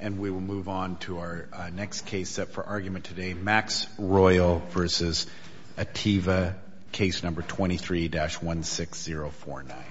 And we will move on to our next case set for argument today, Max Royal v. Atieva, Case Number 23-16049. Max Royal v. Atieva, Case Number 23-16049.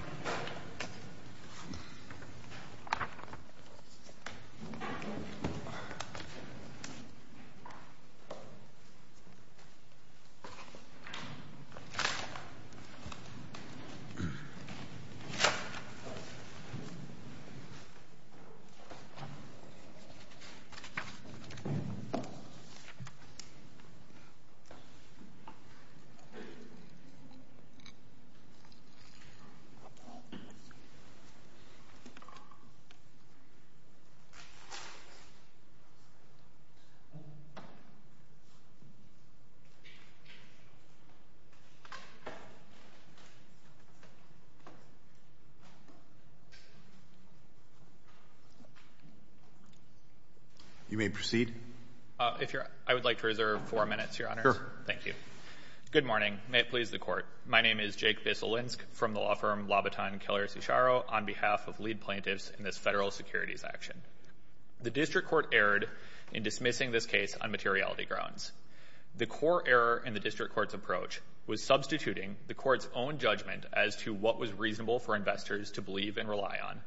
You may proceed. I would like to reserve four minutes, Your Honors. Sure. Thank you. Good morning. May it please the Court. My name is Jake Bisolinsk from the law firm Laubaton Keller Cicero on behalf of lead plaintiffs in this federal securities action. The district court erred in dismissing this case on materiality grounds. The core error in the district court's approach was substituting the court's own judgment as to what was reasonable for investors to believe and rely on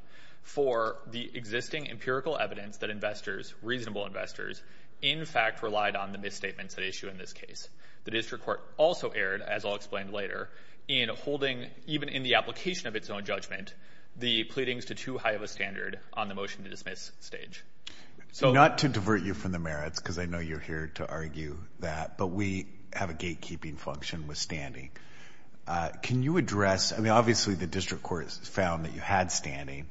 for the existing empirical evidence that investors, reasonable investors, in fact relied on the misstatements at issue in this case. The district court also erred, as I'll explain later, in holding, even in the application of its own judgment, the pleadings to too high of a standard on the motion to dismiss stage. Not to divert you from the merits, because I know you're here to argue that, but we have a gatekeeping function with standing. Can you address, I mean, obviously the district court found that you had standing.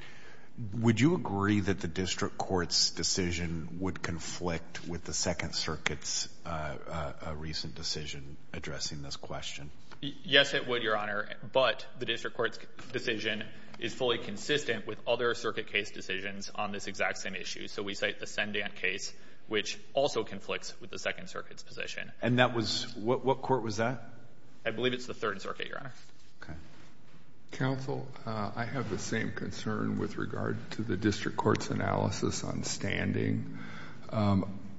Would you agree that the district court's decision would conflict with the Second Circuit's recent decision addressing this question? Yes, it would, Your Honor. But the district court's decision is fully consistent with other circuit case decisions on this exact same issue. So we cite the Sendant case, which also conflicts with the Second Circuit's position. And that was, what court was that? I believe it's the Third Circuit, Your Honor. Okay. Counsel, I have the same concern with regard to the district court's analysis on standing.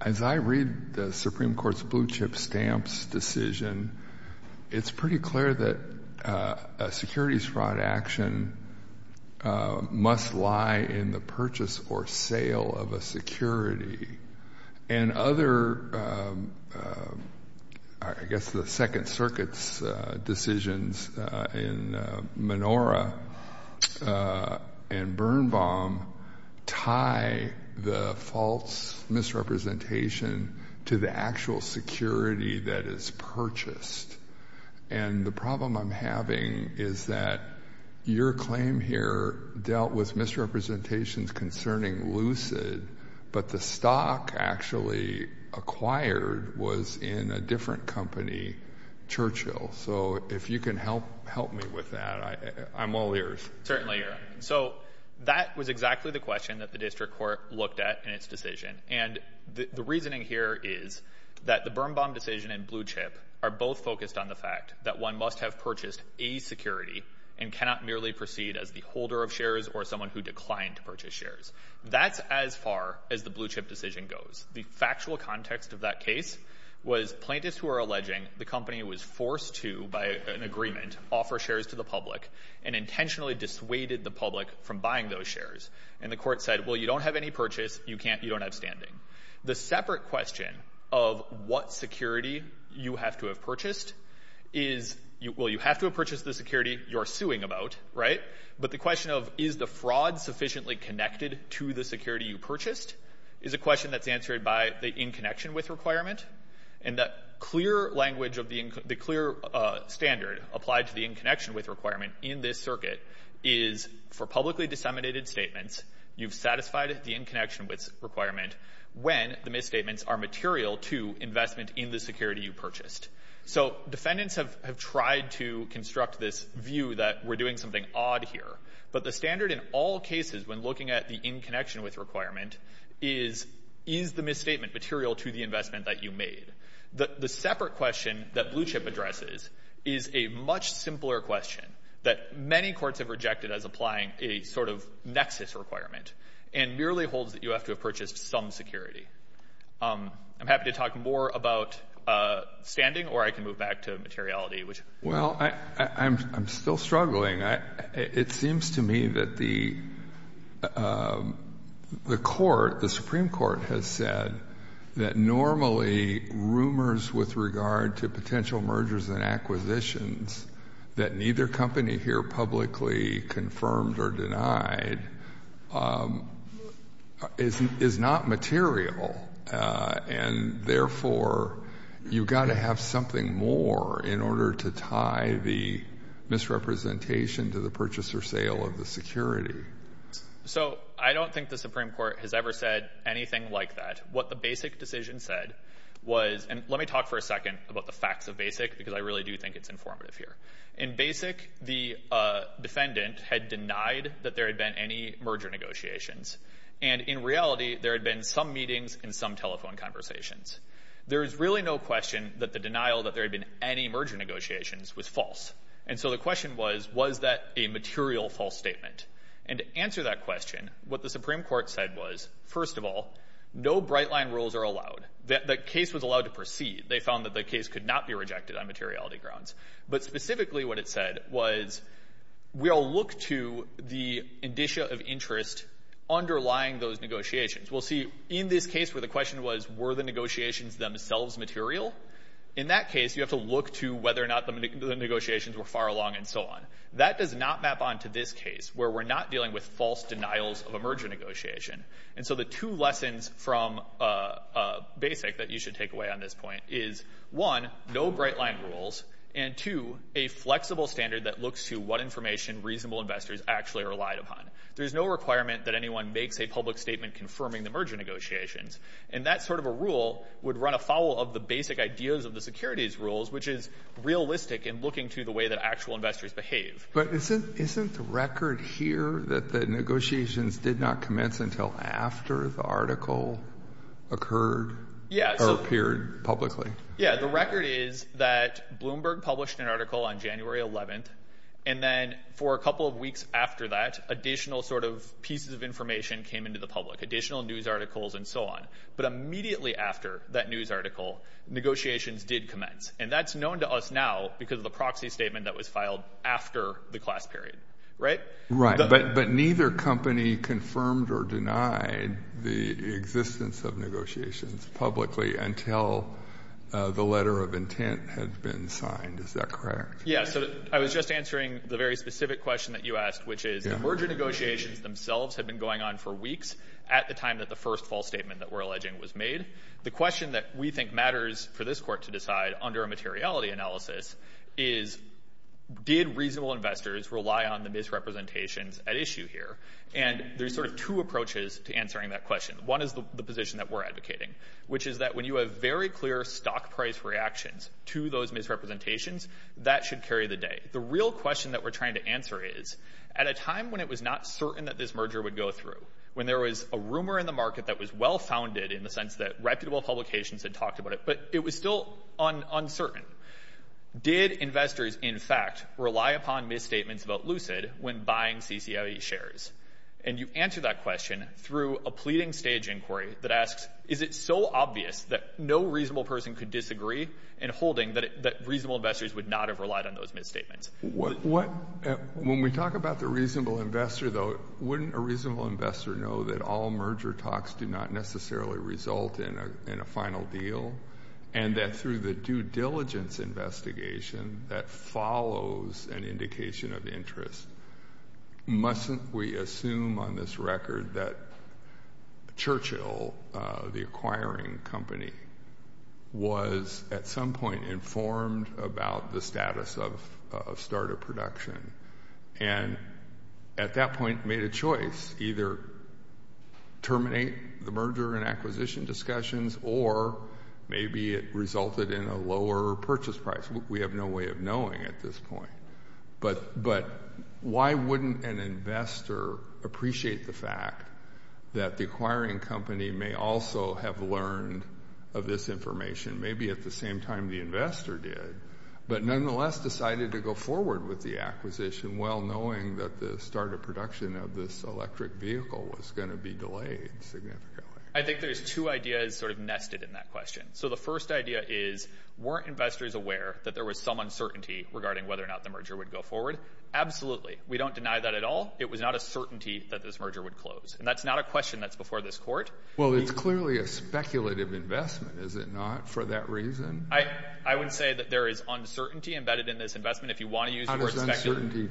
As I read the Supreme Court's blue chip stamps decision, it's pretty clear that a securities fraud action must lie in the purchase or sale of a security. And other, I guess the Second Circuit's decisions in Menora and Birnbaum tie the false misrepresentation to the actual security that is purchased. And the problem I'm having is that your claim here dealt with misrepresentations concerning Lucid, but the stock actually acquired was in a different company, Churchill. So if you can help me with that, I'm all ears. Certainly, Your Honor. So that was exactly the question that the district court looked at in its decision. And the reasoning here is that the Birnbaum decision and blue chip are both focused on the fact that one must have purchased a security and cannot merely proceed as the holder of shares or someone who declined to purchase shares. That's as far as the blue chip decision goes. The factual context of that case was plaintiffs were alleging the company was forced to, by an agreement, offer shares to the public and intentionally dissuaded the public from buying those shares. And the court said, well, you don't have any purchase. You don't have standing. The separate question of what security you have to have purchased is, well, you have to have purchased the security you're suing about, right? But the question of is the fraud sufficiently connected to the security you purchased is a question that's answered by the in connection with requirement. And that clear language of the clear standard applied to the in connection with requirement in this circuit is for publicly disseminated statements, you've satisfied the in connection with requirement when the misstatements are material to investment in the security you purchased. So defendants have tried to construct this view that we're doing something odd here. But the standard in all cases when looking at the in connection with requirement is, is the misstatement material to the investment that you made? The separate question that blue chip addresses is a much simpler question that many courts have rejected as applying a sort of nexus requirement and merely holds that you have to have purchased some security. I'm happy to talk more about standing or I can move back to materiality. Well, I'm still struggling. It seems to me that the court, the Supreme Court has said that normally rumors with regard to potential mergers and acquisitions that neither company here publicly confirmed or denied is not material. And therefore, you've got to have something more in order to tie the misrepresentation to the purchase or sale of the security. So I don't think the Supreme Court has ever said anything like that. What the basic decision said was, and let me talk for a second about the facts of basic, because I really do think it's informative here. In basic, the defendant had denied that there had been any merger negotiations. And in reality, there had been some meetings and some telephone conversations. There is really no question that the denial that there had been any merger negotiations was false. And so the question was, was that a material false statement? And to answer that question, what the Supreme Court said was, first of all, no bright line rules are allowed. The case was allowed to proceed. They found that the case could not be rejected on materiality grounds. But specifically what it said was, we'll look to the indicia of interest underlying those negotiations. We'll see in this case where the question was, were the negotiations themselves material? In that case, you have to look to whether or not the negotiations were far along and so on. That does not map onto this case where we're not dealing with false denials of a merger negotiation. And so the two lessons from basic that you should take away on this point is, one, no bright line rules, and two, a flexible standard that looks to what information reasonable investors actually relied upon. There's no requirement that anyone makes a public statement confirming the merger negotiations. And that sort of a rule would run afoul of the basic ideas of the securities rules, which is realistic in looking to the way that actual investors behave. But isn't the record here that the negotiations did not commence until after the article occurred or appeared publicly? Yeah, the record is that Bloomberg published an article on January 11th. And then for a couple of weeks after that, additional sort of pieces of information came into the public, additional news articles and so on. But immediately after that news article, negotiations did commence. And that's known to us now because of the proxy statement that was filed after the class period, right? Right. But neither company confirmed or denied the existence of negotiations publicly until the letter of intent had been signed. Is that correct? Yeah. So I was just answering the very specific question that you asked, which is the merger negotiations themselves had been going on for weeks at the time that the first false statement that we're alleging was made. The question that we think matters for this court to decide under a materiality analysis is, did reasonable investors rely on the misrepresentations at issue here? And there's sort of two approaches to answering that question. One is the position that we're advocating, which is that when you have very clear stock price reactions to those misrepresentations, that should carry the day. The real question that we're trying to answer is, at a time when it was not certain that this merger would go through, when there was a rumor in the market that was well-founded in the sense that reputable publications had talked about it, but it was still uncertain, did investors, in fact, rely upon misstatements about Lucid when buying CCIE shares? And you answer that question through a pleading stage inquiry that asks, is it so obvious that no reasonable person could disagree in holding that reasonable investors would not have relied on those misstatements? When we talk about the reasonable investor, though, wouldn't a reasonable investor know that all merger talks do not necessarily result in a final deal and that through the due diligence investigation that follows an indication of interest, mustn't we assume on this record that Churchill, the acquiring company, was at some point informed about the status of starter production and at that point made a choice, either terminate the merger and acquisition discussions or maybe it resulted in a lower purchase price. We have no way of knowing at this point. But why wouldn't an investor appreciate the fact that the acquiring company may also have learned of this information, maybe at the same time the investor did, but nonetheless decided to go forward with the acquisition while knowing that the starter production of this electric vehicle was going to be delayed significantly? I think there's two ideas sort of nested in that question. So the first idea is weren't investors aware that there was some uncertainty regarding whether or not the merger would go forward? Absolutely. We don't deny that at all. It was not a certainty that this merger would close. And that's not a question that's before this court. Well, it's clearly a speculative investment, is it not, for that reason? I would say that there is uncertainty embedded in this investment if you want to use the word speculative. How does uncertainty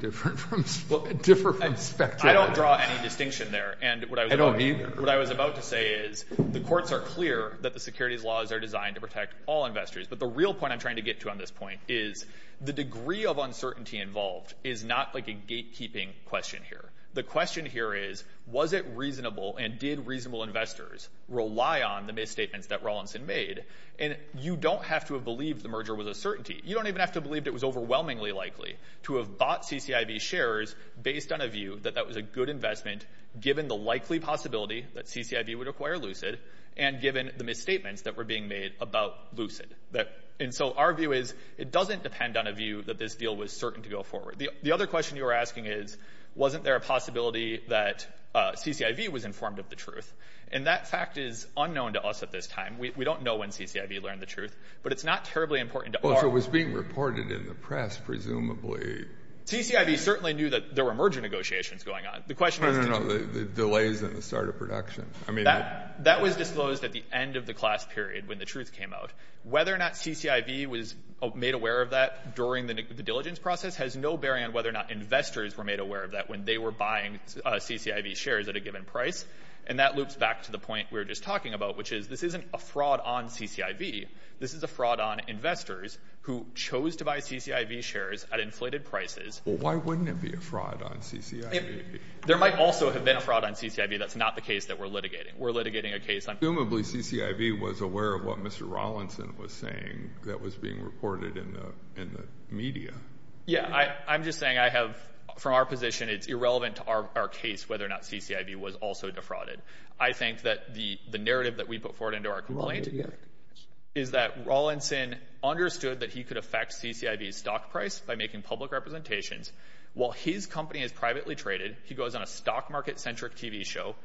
differ from speculation? I don't draw any distinction there. I don't either. What I was about to say is the courts are clear that the securities laws are designed to protect all investors. But the real point I'm trying to get to on this point is the degree of uncertainty involved is not like a gatekeeping question here. The question here is was it reasonable and did reasonable investors rely on the misstatements that Rawlinson made? And you don't have to have believed the merger was a certainty. You don't even have to have believed it was overwhelmingly likely to have bought CCIV shares based on a view that that was a good investment given the likely possibility that CCIV would acquire Lucid and given the misstatements that were being made about Lucid. And so our view is it doesn't depend on a view that this deal was certain to go forward. The other question you were asking is wasn't there a possibility that CCIV was informed of the truth? And that fact is unknown to us at this time. We don't know when CCIV learned the truth, but it's not terribly important to our— So it was being reported in the press, presumably. CCIV certainly knew that there were merger negotiations going on. No, no, no, the delays in the start of production. That was disclosed at the end of the class period when the truth came out. Whether or not CCIV was made aware of that during the diligence process has no bearing on whether or not investors were made aware of that when they were buying CCIV shares at a given price. And that loops back to the point we were just talking about, which is this isn't a fraud on CCIV. This is a fraud on investors who chose to buy CCIV shares at inflated prices. Well, why wouldn't it be a fraud on CCIV? There might also have been a fraud on CCIV. That's not the case that we're litigating. We're litigating a case on— Assumably CCIV was aware of what Mr. Rawlinson was saying that was being reported in the media. Yeah, I'm just saying I have—from our position, it's irrelevant to our case whether or not CCIV was also defrauded. I think that the narrative that we put forward into our complaint is that Rawlinson understood that he could affect CCIV's stock price by making public representations. While his company is privately traded, he goes on a stock market-centric TV show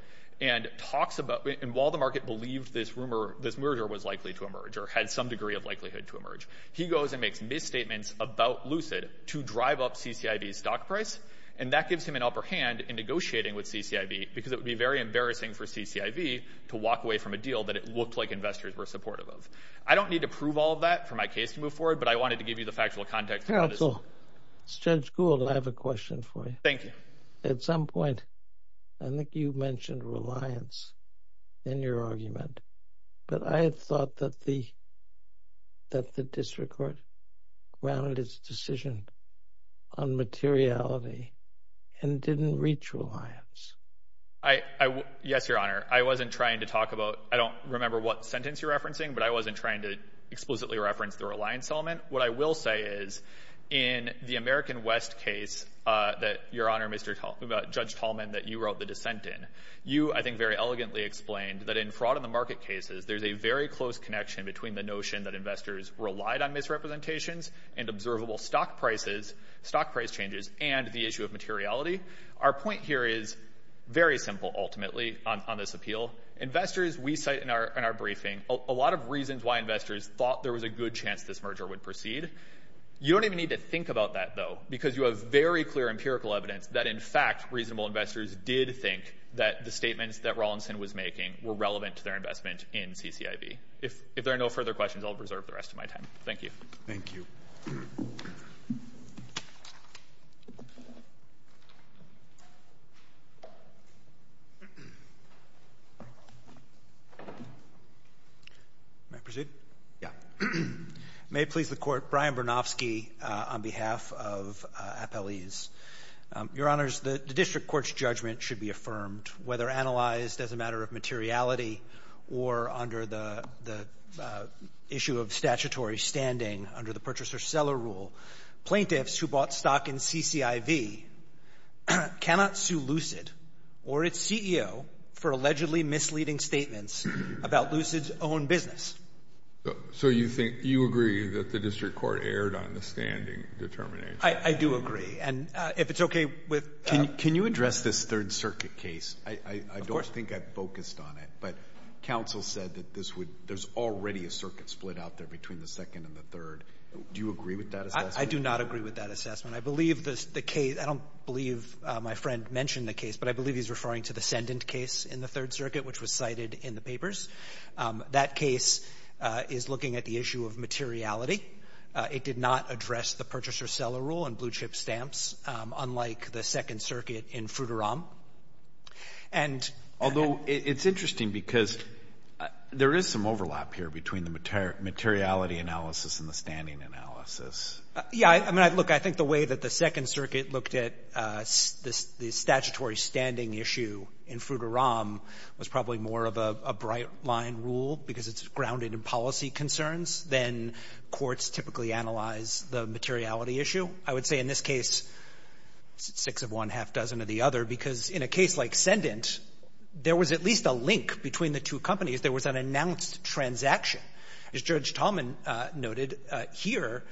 and talks about— and while the market believed this rumor, this merger was likely to emerge or had some degree of likelihood to emerge, he goes and makes misstatements about Lucid to drive up CCIV's stock price. And that gives him an upper hand in negotiating with CCIV because it would be very embarrassing for CCIV to walk away from a deal that it looked like investors were supportive of. I don't need to prove all of that for my case to move forward, but I wanted to give you the factual context. Counsel, Judge Gould, I have a question for you. Thank you. At some point, I think you mentioned reliance in your argument, but I had thought that the district court grounded its decision on materiality and didn't reach reliance. Yes, Your Honor. I wasn't trying to talk about—I don't remember what sentence you're referencing, but I wasn't trying to explicitly reference the reliance element. What I will say is in the American West case that, Your Honor, Judge Tallman, that you wrote the dissent in, you, I think, very elegantly explained that in fraud in the market cases, there's a very close connection between the notion that investors relied on misrepresentations and observable stock price changes and the issue of materiality. Our point here is very simple, ultimately, on this appeal. Investors, we cite in our briefing a lot of reasons why investors thought there was a good chance this merger would proceed. You don't even need to think about that, though, because you have very clear empirical evidence that, in fact, reasonable investors did think that the statements that Rawlinson was making were relevant to their investment in CCIV. If there are no further questions, I'll reserve the rest of my time. Thank you. Thank you. May I proceed? Yeah. May it please the Court, Brian Bernofsky on behalf of Appellees. Your Honors, the district court's judgment should be affirmed whether analyzed as a matter of materiality or under the issue of statutory standing under the purchaser-seller rule. Plaintiffs who bought stock in CCIV cannot sue Lucid or its CEO for allegedly misleading statements about Lucid's own business. So you agree that the district court erred on the standing determination? I do agree. And if it's okay with you. Can you address this Third Circuit case? Of course. I don't think I focused on it, but counsel said that there's already a circuit split out there between the Second and the Third. Do you agree with that assessment? I do not agree with that assessment. I don't believe my friend mentioned the case, but I believe he's referring to the Sendint case in the Third Circuit, which was cited in the papers. That case is looking at the issue of materiality. It did not address the purchaser-seller rule and blue-chip stamps, unlike the Second Circuit in Fruteram. And — Although it's interesting because there is some overlap here between the materiality analysis and the standing analysis. Yeah. I would say in this case, six of one, half-dozen of the other, because in a case like Sendint, there was at least a link between the two companies. There was an announced transaction. As Judge Tallman noted here,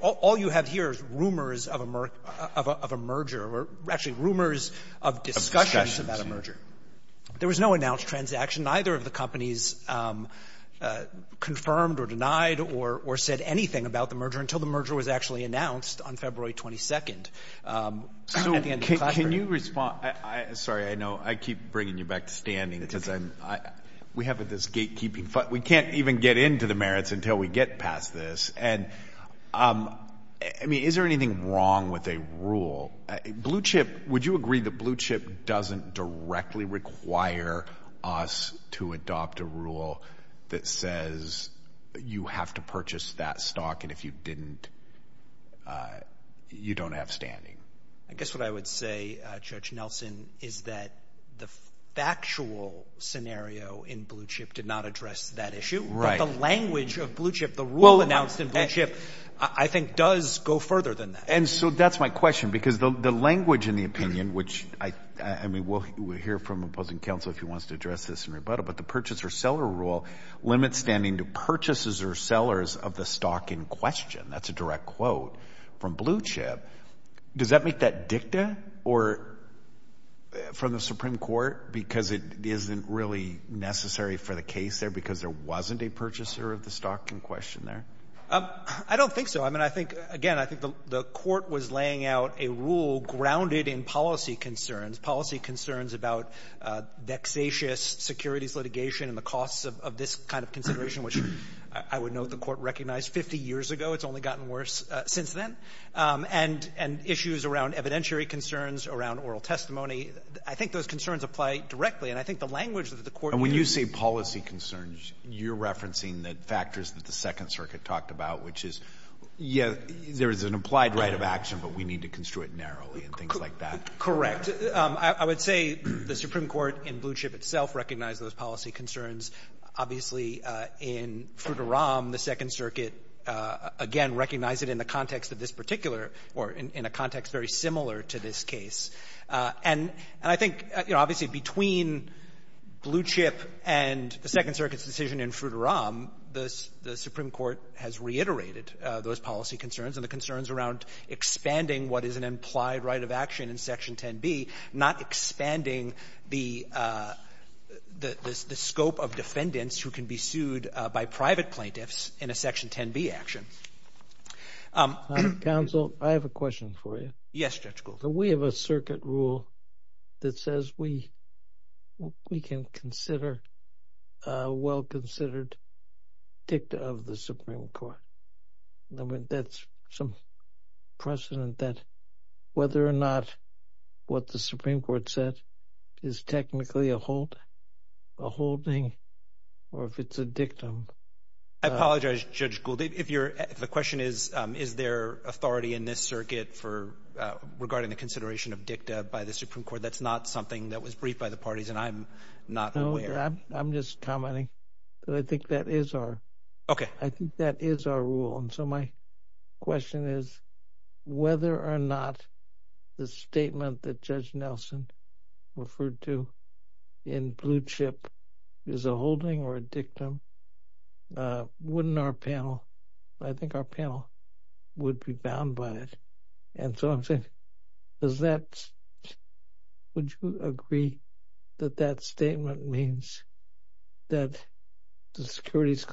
all you have here is rumors of a merger, or actually rumors of discussions about a merger. There was no announced transaction. Neither of the companies confirmed or denied or said anything about the merger until the merger was actually announced on February 22nd at the end of the classroom. So can you respond? Sorry, I know I keep bringing you back to standing because we have this gatekeeping fight. We can't even get into the merits until we get past this. And, I mean, is there anything wrong with a rule? Blue Chip, would you agree that Blue Chip doesn't directly require us to adopt a rule that says you have to purchase that stock, and if you didn't, you don't have standing? I guess what I would say, Judge Nelson, is that the factual scenario in Blue Chip did not address that issue. Right. But the language of Blue Chip, the rule announced in Blue Chip, I think does go further than that. And so that's my question, because the language in the opinion, which, I mean, we'll hear from opposing counsel if he wants to address this in rebuttal, but the purchaser-seller rule limits standing to purchasers or sellers of the stock in question. That's a direct quote from Blue Chip. Does that make that dicta or from the Supreme Court because it isn't really necessary for the case there because there wasn't a purchaser of the stock in question there? I don't think so. I mean, I think, again, I think the Court was laying out a rule grounded in policy concerns, policy concerns about vexatious securities litigation and the costs of this kind of consideration, which I would note the Court recognized 50 years ago. It's only gotten worse since then. And issues around evidentiary concerns, around oral testimony, I think those concerns apply directly. And I think the language that the Court uses — Yes. There is an implied right of action, but we need to construe it narrowly and things like that. Correct. I would say the Supreme Court in Blue Chip itself recognized those policy concerns. Obviously, in Fruiteram, the Second Circuit, again, recognized it in the context of this particular or in a context very similar to this case. And I think, you know, obviously between Blue Chip and the Second Circuit's decision in Fruiteram, the Supreme Court has reiterated those policy concerns and the concerns around expanding what is an implied right of action in Section 10b, not expanding the scope of defendants who can be sued by private plaintiffs in a Section 10b action. Counsel, I have a question for you. Yes, Judge Golden. We have a circuit rule that says we can consider a well-considered dicta of the Supreme Court. That's some precedent that whether or not what the Supreme Court said is technically a holding or if it's a dictum. I apologize, Judge Golden. If the question is, is there authority in this circuit for regarding the consideration of dicta by the Supreme Court, that's not something that was briefed by the parties, and I'm not aware. No, I'm just commenting that I think that is our rule. And so my question is whether or not the statement that Judge Nelson referred to in Blue Chip is a holding or a dictum, wouldn't our panel, I think our panel would be bound by it. And so I'm saying, does that, would you agree that that statement means that the securities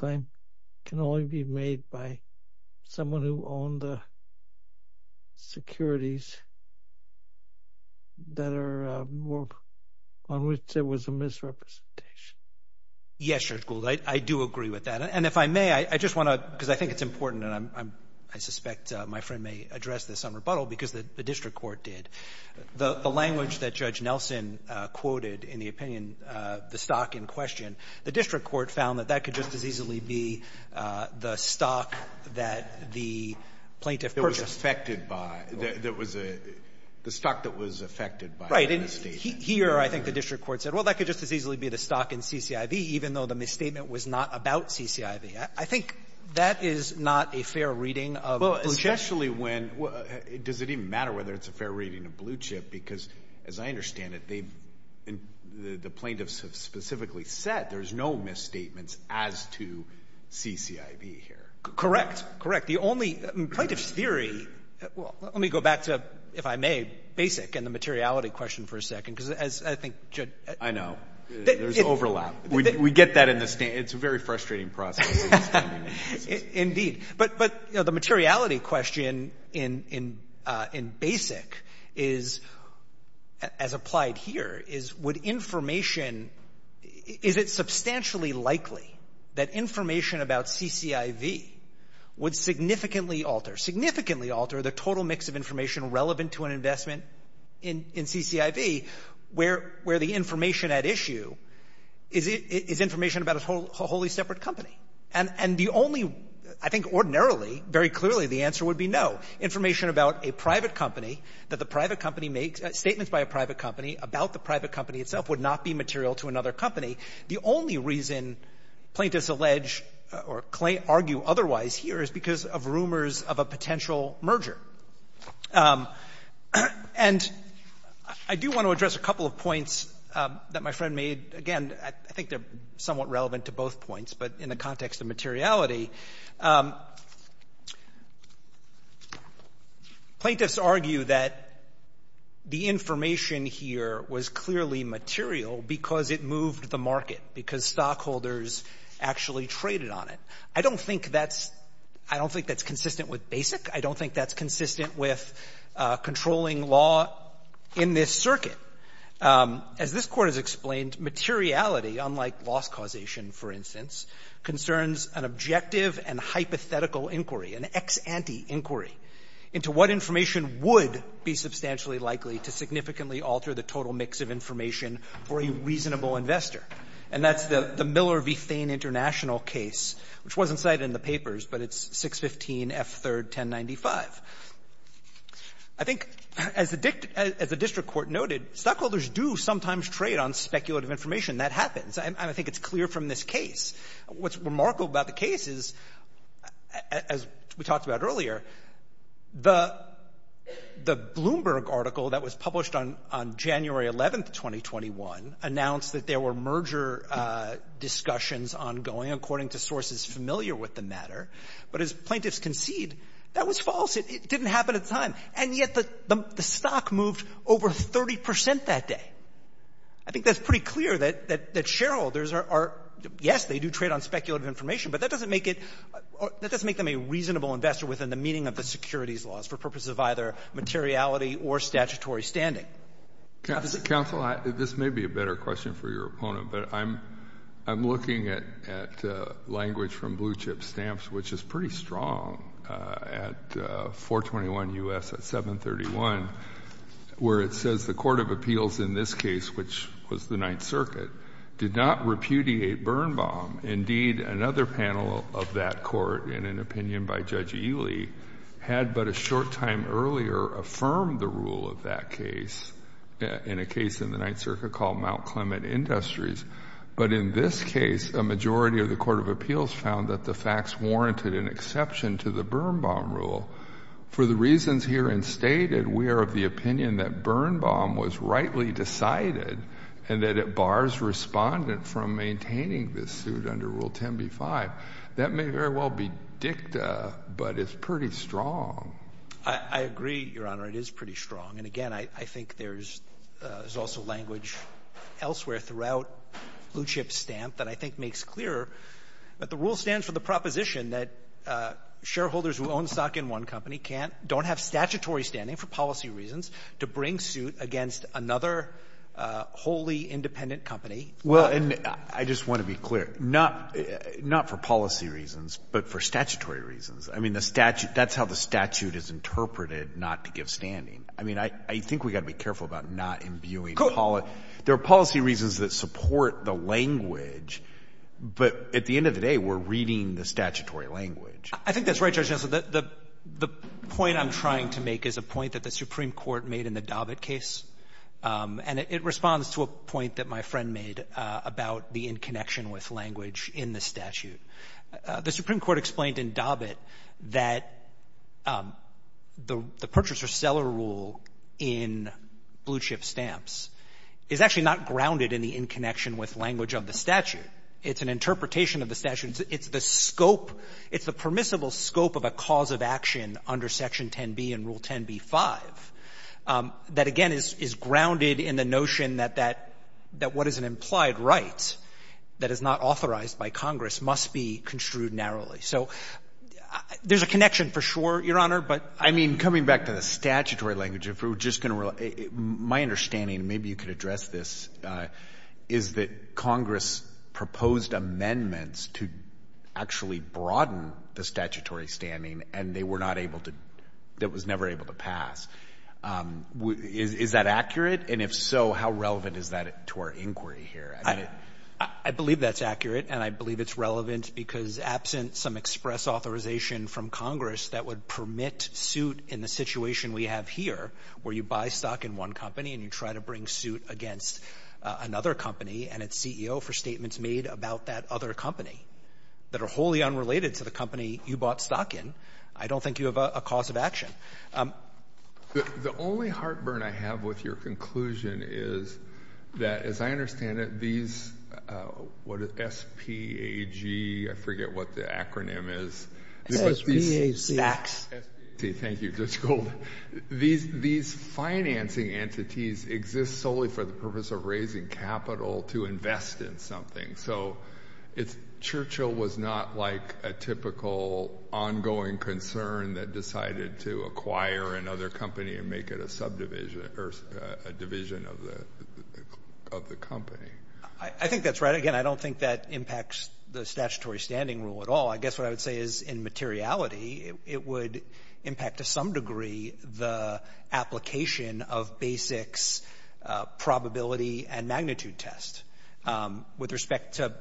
Yes, Judge Golden. I do agree with that. And if I may, I just want to, because I think it's important and I'm, I suspect my friend may address this on rebuttal because the district court did. The language that Judge Nelson quoted in the opinion, the stock in question, the district court found that that could just as easily be the stock that the plaintiff purchased. It was affected by, there was a, the stock that was affected by the statement. Here, I think the district court said, well, that could just as easily be the stock in CCIV, even though the misstatement was not about CCIV. I think that is not a fair reading of Blue Chip. Well, especially when, does it even matter whether it's a fair reading of Blue Chip? Because as I understand it, they've, the plaintiffs have specifically said there's no misstatements as to CCIV here. Correct. Correct. The only, plaintiff's theory, well, let me go back to, if I may, Basic and the materiality question for a second because as I think, Judge. I know. There's overlap. We get that in the, it's a very frustrating process. Indeed. But, but, you know, the materiality question in, in, in Basic is, as applied here, is would information, is it substantially likely that information about CCIV would significantly alter, significantly alter the total mix of information relevant to an information at issue is, is information about a wholly separate company? And, and the only, I think ordinarily, very clearly, the answer would be no. Information about a private company, that the private company makes, statements by a private company about the private company itself would not be material to another company. The only reason plaintiffs allege or claim, argue otherwise here is because of rumors of a potential merger. And I do want to address a couple of points that my friend made. Again, I think they're somewhat relevant to both points, but in the context of materiality, plaintiffs argue that the information here was clearly material because it moved the market, because stockholders actually traded on it. I don't think that's, I don't think that's consistent with Basic. I don't think that's consistent with controlling law in this circuit. As this Court has explained, materiality, unlike loss causation, for instance, concerns an objective and hypothetical inquiry, an ex ante inquiry, into what information would be substantially likely to significantly alter the total mix of information for a reasonable investor. And that's the Miller v. Thain International case, which wasn't cited in the papers, but it's 615 F. 3rd 1095. I think, as the district court noted, stockholders do sometimes trade on speculative information. That happens. And I think it's clear from this case. What's remarkable about the case is, as we talked about earlier, the Bloomberg article that was published on January 11th, 2021, announced that there were merger discussions ongoing, according to sources familiar with the matter. But as plaintiffs concede, that was false. It didn't happen at the time. And yet the stock moved over 30 percent that day. I think that's pretty clear that shareholders are, yes, they do trade on speculative information, but that doesn't make it, that doesn't make them a reasonable investor within the meaning of the securities laws for purposes of either materiality or statutory standing. Counsel, this may be a better question for your opponent, but I'm looking at language from Blue Chip Stamps, which is pretty strong, at 421 U.S., at 731, where it says, the court of appeals in this case, which was the Ninth Circuit, did not repudiate Birnbaum. Indeed, another panel of that court, in an opinion by Judge Ely, had but a short time earlier affirmed the rule of that case in a case in the Ninth Circuit called Mount Clement Industries. But in this case, a majority of the court of appeals found that the facts warranted an exception to the Birnbaum rule. For the reasons herein stated, we are of the opinion that Birnbaum was rightly decided and that it bars respondent from maintaining this suit under Rule 10b-5. That may very well be dicta, but it's pretty strong. I agree, Your Honor. It is pretty strong. And again, I think there's also language elsewhere throughout Blue Chip Stamp that I think makes clear that the rule stands for the proposition that shareholders who own stock in one company can't, don't have statutory standing for policy reasons to bring suit against another wholly independent company. Well, and I just want to be clear, not for policy reasons, but for statutory reasons. I mean, the statute, that's how the statute is interpreted, not to give standing. I mean, I think we've got to be careful about not imbuing policy. There are policy reasons that support the language, but at the end of the day, we're reading the statutory language. I think that's right, Judge Gensler. The point I'm trying to make is a point that the Supreme Court made in the Dobbit case, and it responds to a point that my friend made about the inconnection with language in the statute. The Supreme Court explained in Dobbit that the purchaser-seller rule in Blue Chip Stamps is actually not grounded in the inconnection with language of the statute. It's an interpretation of the statute. It's the scope. It's the permissible scope of a cause of action under Section 10b and Rule 10b-5 that, again, is grounded in the notion that that what is an implied right that is not So there's a connection for sure, Your Honor, but — I mean, coming back to the statutory language, if we're just going to — my understanding — maybe you could address this — is that Congress proposed amendments to actually broaden the statutory standing, and they were not able to — it was never able to pass. Is that accurate? And if so, how relevant is that to our inquiry here? I believe that's accurate, and I believe it's relevant because absent some express authorization from Congress that would permit suit in the situation we have here, where you buy stock in one company and you try to bring suit against another company and its CEO for statements made about that other company that are wholly unrelated to the company you bought stock in, I don't think you have a cause of action. The only heartburn I have with your conclusion is that, as I understand it, these — what is it, SPAG? I forget what the acronym is. SPAC. Thank you, Judge Golden. These financing entities exist solely for the purpose of raising capital to invest in something. So it's — Churchill was not like a typical ongoing concern that decided to acquire another company and make it a subdivision — or a division of the — of the company. I think that's right. Again, I don't think that impacts the statutory standing rule at all. I guess what I would say is, in materiality, it would impact to some degree the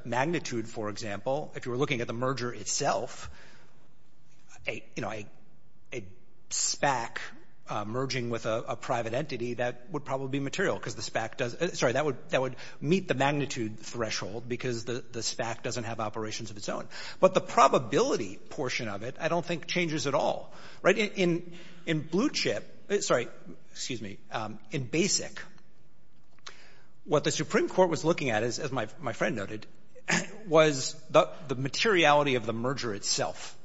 magnitude, for example. If you were looking at the merger itself, a SPAC merging with a private entity, that would probably be material, because the SPAC does — sorry, that would meet the magnitude threshold, because the SPAC doesn't have operations of its own. But the probability portion of it I don't think changes at all. Right? In blue chip — sorry, excuse me — in BASIC, what the Supreme Court was looking at, as my friend noted, was the materiality of the merger itself.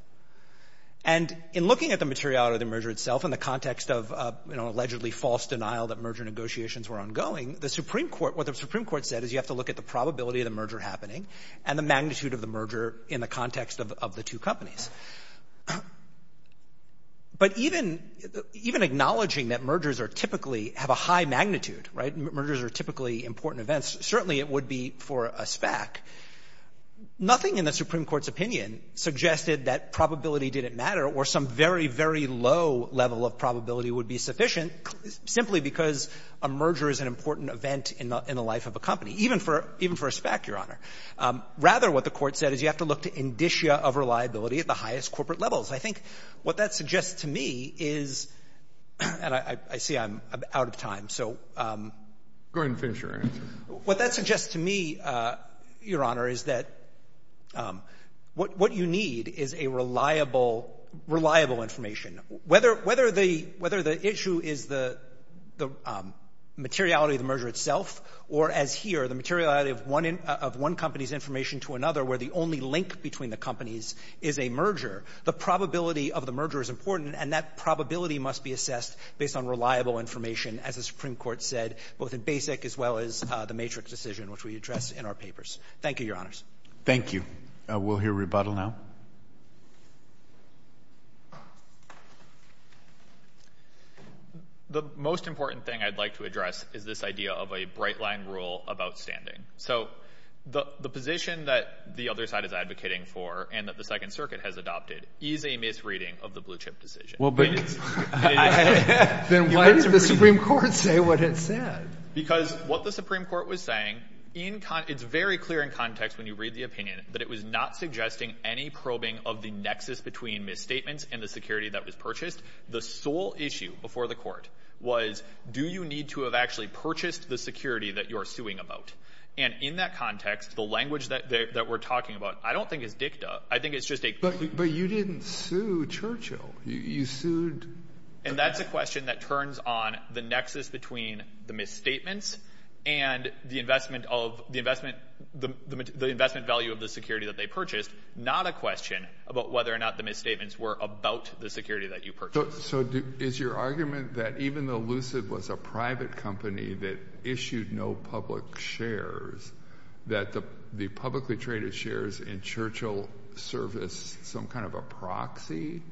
And in looking at the materiality of the merger itself in the context of an allegedly false denial that merger negotiations were ongoing, the Supreme Court — what the Supreme Court said is you have to look at the probability of the merger happening and the magnitude of the merger in the context of the two companies. But even acknowledging that mergers are typically — have a high magnitude, right? Mergers are typically important events. Certainly it would be for a SPAC. Nothing in the Supreme Court's opinion suggested that probability didn't matter or some very, very low level of probability would be sufficient simply because a merger is an important event in the life of a company, even for a SPAC, Your Honor. Rather, what the Court said is you have to look to indicia of reliability at the highest corporate levels. I think what that suggests to me is — and I see I'm out of time. So — Go ahead and finish your answer. What that suggests to me, Your Honor, is that what you need is a reliable information. Whether the issue is the materiality of the merger itself or, as here, the materiality of one company's information to another where the only link between the companies is a merger, the probability of the merger is important, and that both in basic as well as the matrix decision, which we address in our papers. Thank you, Your Honors. Thank you. We'll hear rebuttal now. The most important thing I'd like to address is this idea of a bright-line rule of outstanding. So the position that the other side is advocating for and that the Second Circuit has adopted is a misreading of the blue-chip decision. Then why did the Supreme Court say what it said? Because what the Supreme Court was saying — it's very clear in context when you read the opinion that it was not suggesting any probing of the nexus between misstatements and the security that was purchased. The sole issue before the court was, do you need to have actually purchased the security that you're suing about? And in that context, the language that we're talking about I don't think is dicta. I think it's just a — But you didn't sue Churchill. You sued — And that's a question that turns on the nexus between the misstatements and the investment value of the security that they purchased, not a question about whether or not the misstatements were about the security that you purchased. So is your argument that even though Lucid was a private company that issued no public shares, that the publicly traded shares in Churchill serviced some kind of a proxy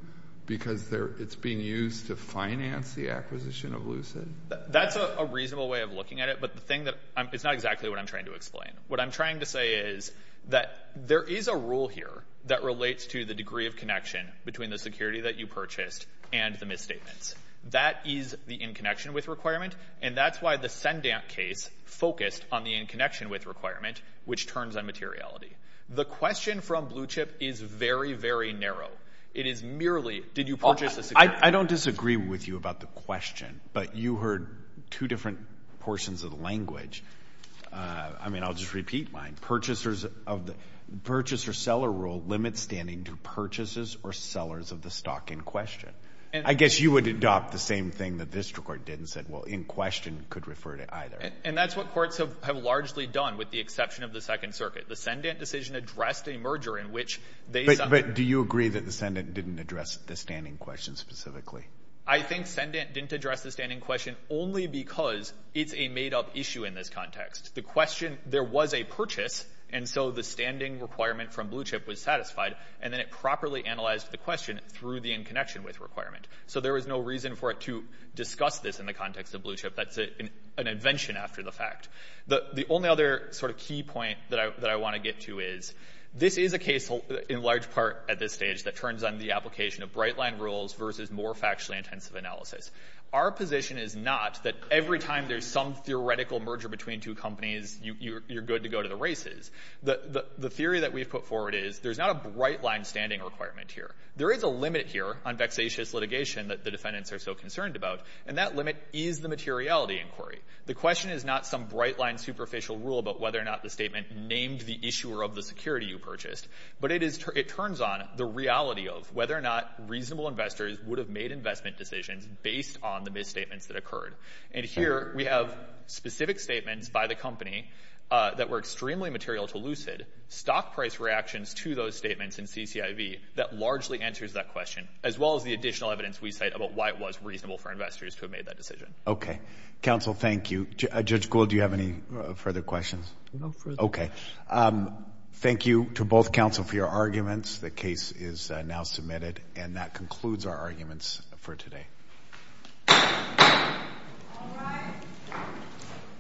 because it's being used to finance the acquisition of Lucid? That's a reasonable way of looking at it, but the thing that — it's not exactly what I'm trying to explain. What I'm trying to say is that there is a rule here that relates to the degree of connection between the security that you purchased and the misstatements. That is the in-connection-with requirement, and that's why the Sendamp case focused on the in-connection-with requirement, which turns on materiality. The question from Blue Chip is very, very narrow. It is merely, did you purchase a — I don't disagree with you about the question, but you heard two different portions of the language. I mean, I'll just repeat mine. Purchaser-seller rule limits standing to purchases or sellers of the stock in question. I guess you would adopt the same thing that this court did and said, well, in question could refer to either. And that's what courts have largely done, with the exception of the Second Circuit. The Sendamp decision addressed a merger in which they — But do you agree that the Sendamp didn't address the standing question specifically? I think Sendamp didn't address the standing question only because it's a made-up issue in this context. The question — there was a purchase, and so the standing requirement from Blue Chip was satisfied, and then it properly analyzed the question through the in-connection-with requirement. So there was no reason for it to discuss this in the context of Blue Chip. That's an invention after the fact. The only other sort of key point that I want to get to is, this is a case in large part at this stage that turns on the application of bright-line rules versus more factually intensive analysis. Our position is not that every time there's some theoretical merger between two companies, you're good to go to the races. The theory that we've put forward is, there's not a bright-line standing requirement here. There is a limit here on vexatious litigation that the defendants are so concerned about, and that limit is the materiality inquiry. The question is not some bright-line superficial rule about whether or not the statement named the issuer of the security you purchased, but it is — it turns on the reality of whether or not reasonable investors would have made investment decisions based on the misstatements that occurred. And here we have specific statements by the company that were extremely material to Lucid, stock price reactions to those statements in CCIV that largely answers that question, as well as the additional evidence we cite about why it was reasonable for investors to have made that decision. Okay. Counsel, thank you. Judge Gould, do you have any further questions? No further questions. Okay. Thank you to both counsel for your arguments. The case is now submitted. And that concludes our arguments for today. All rise.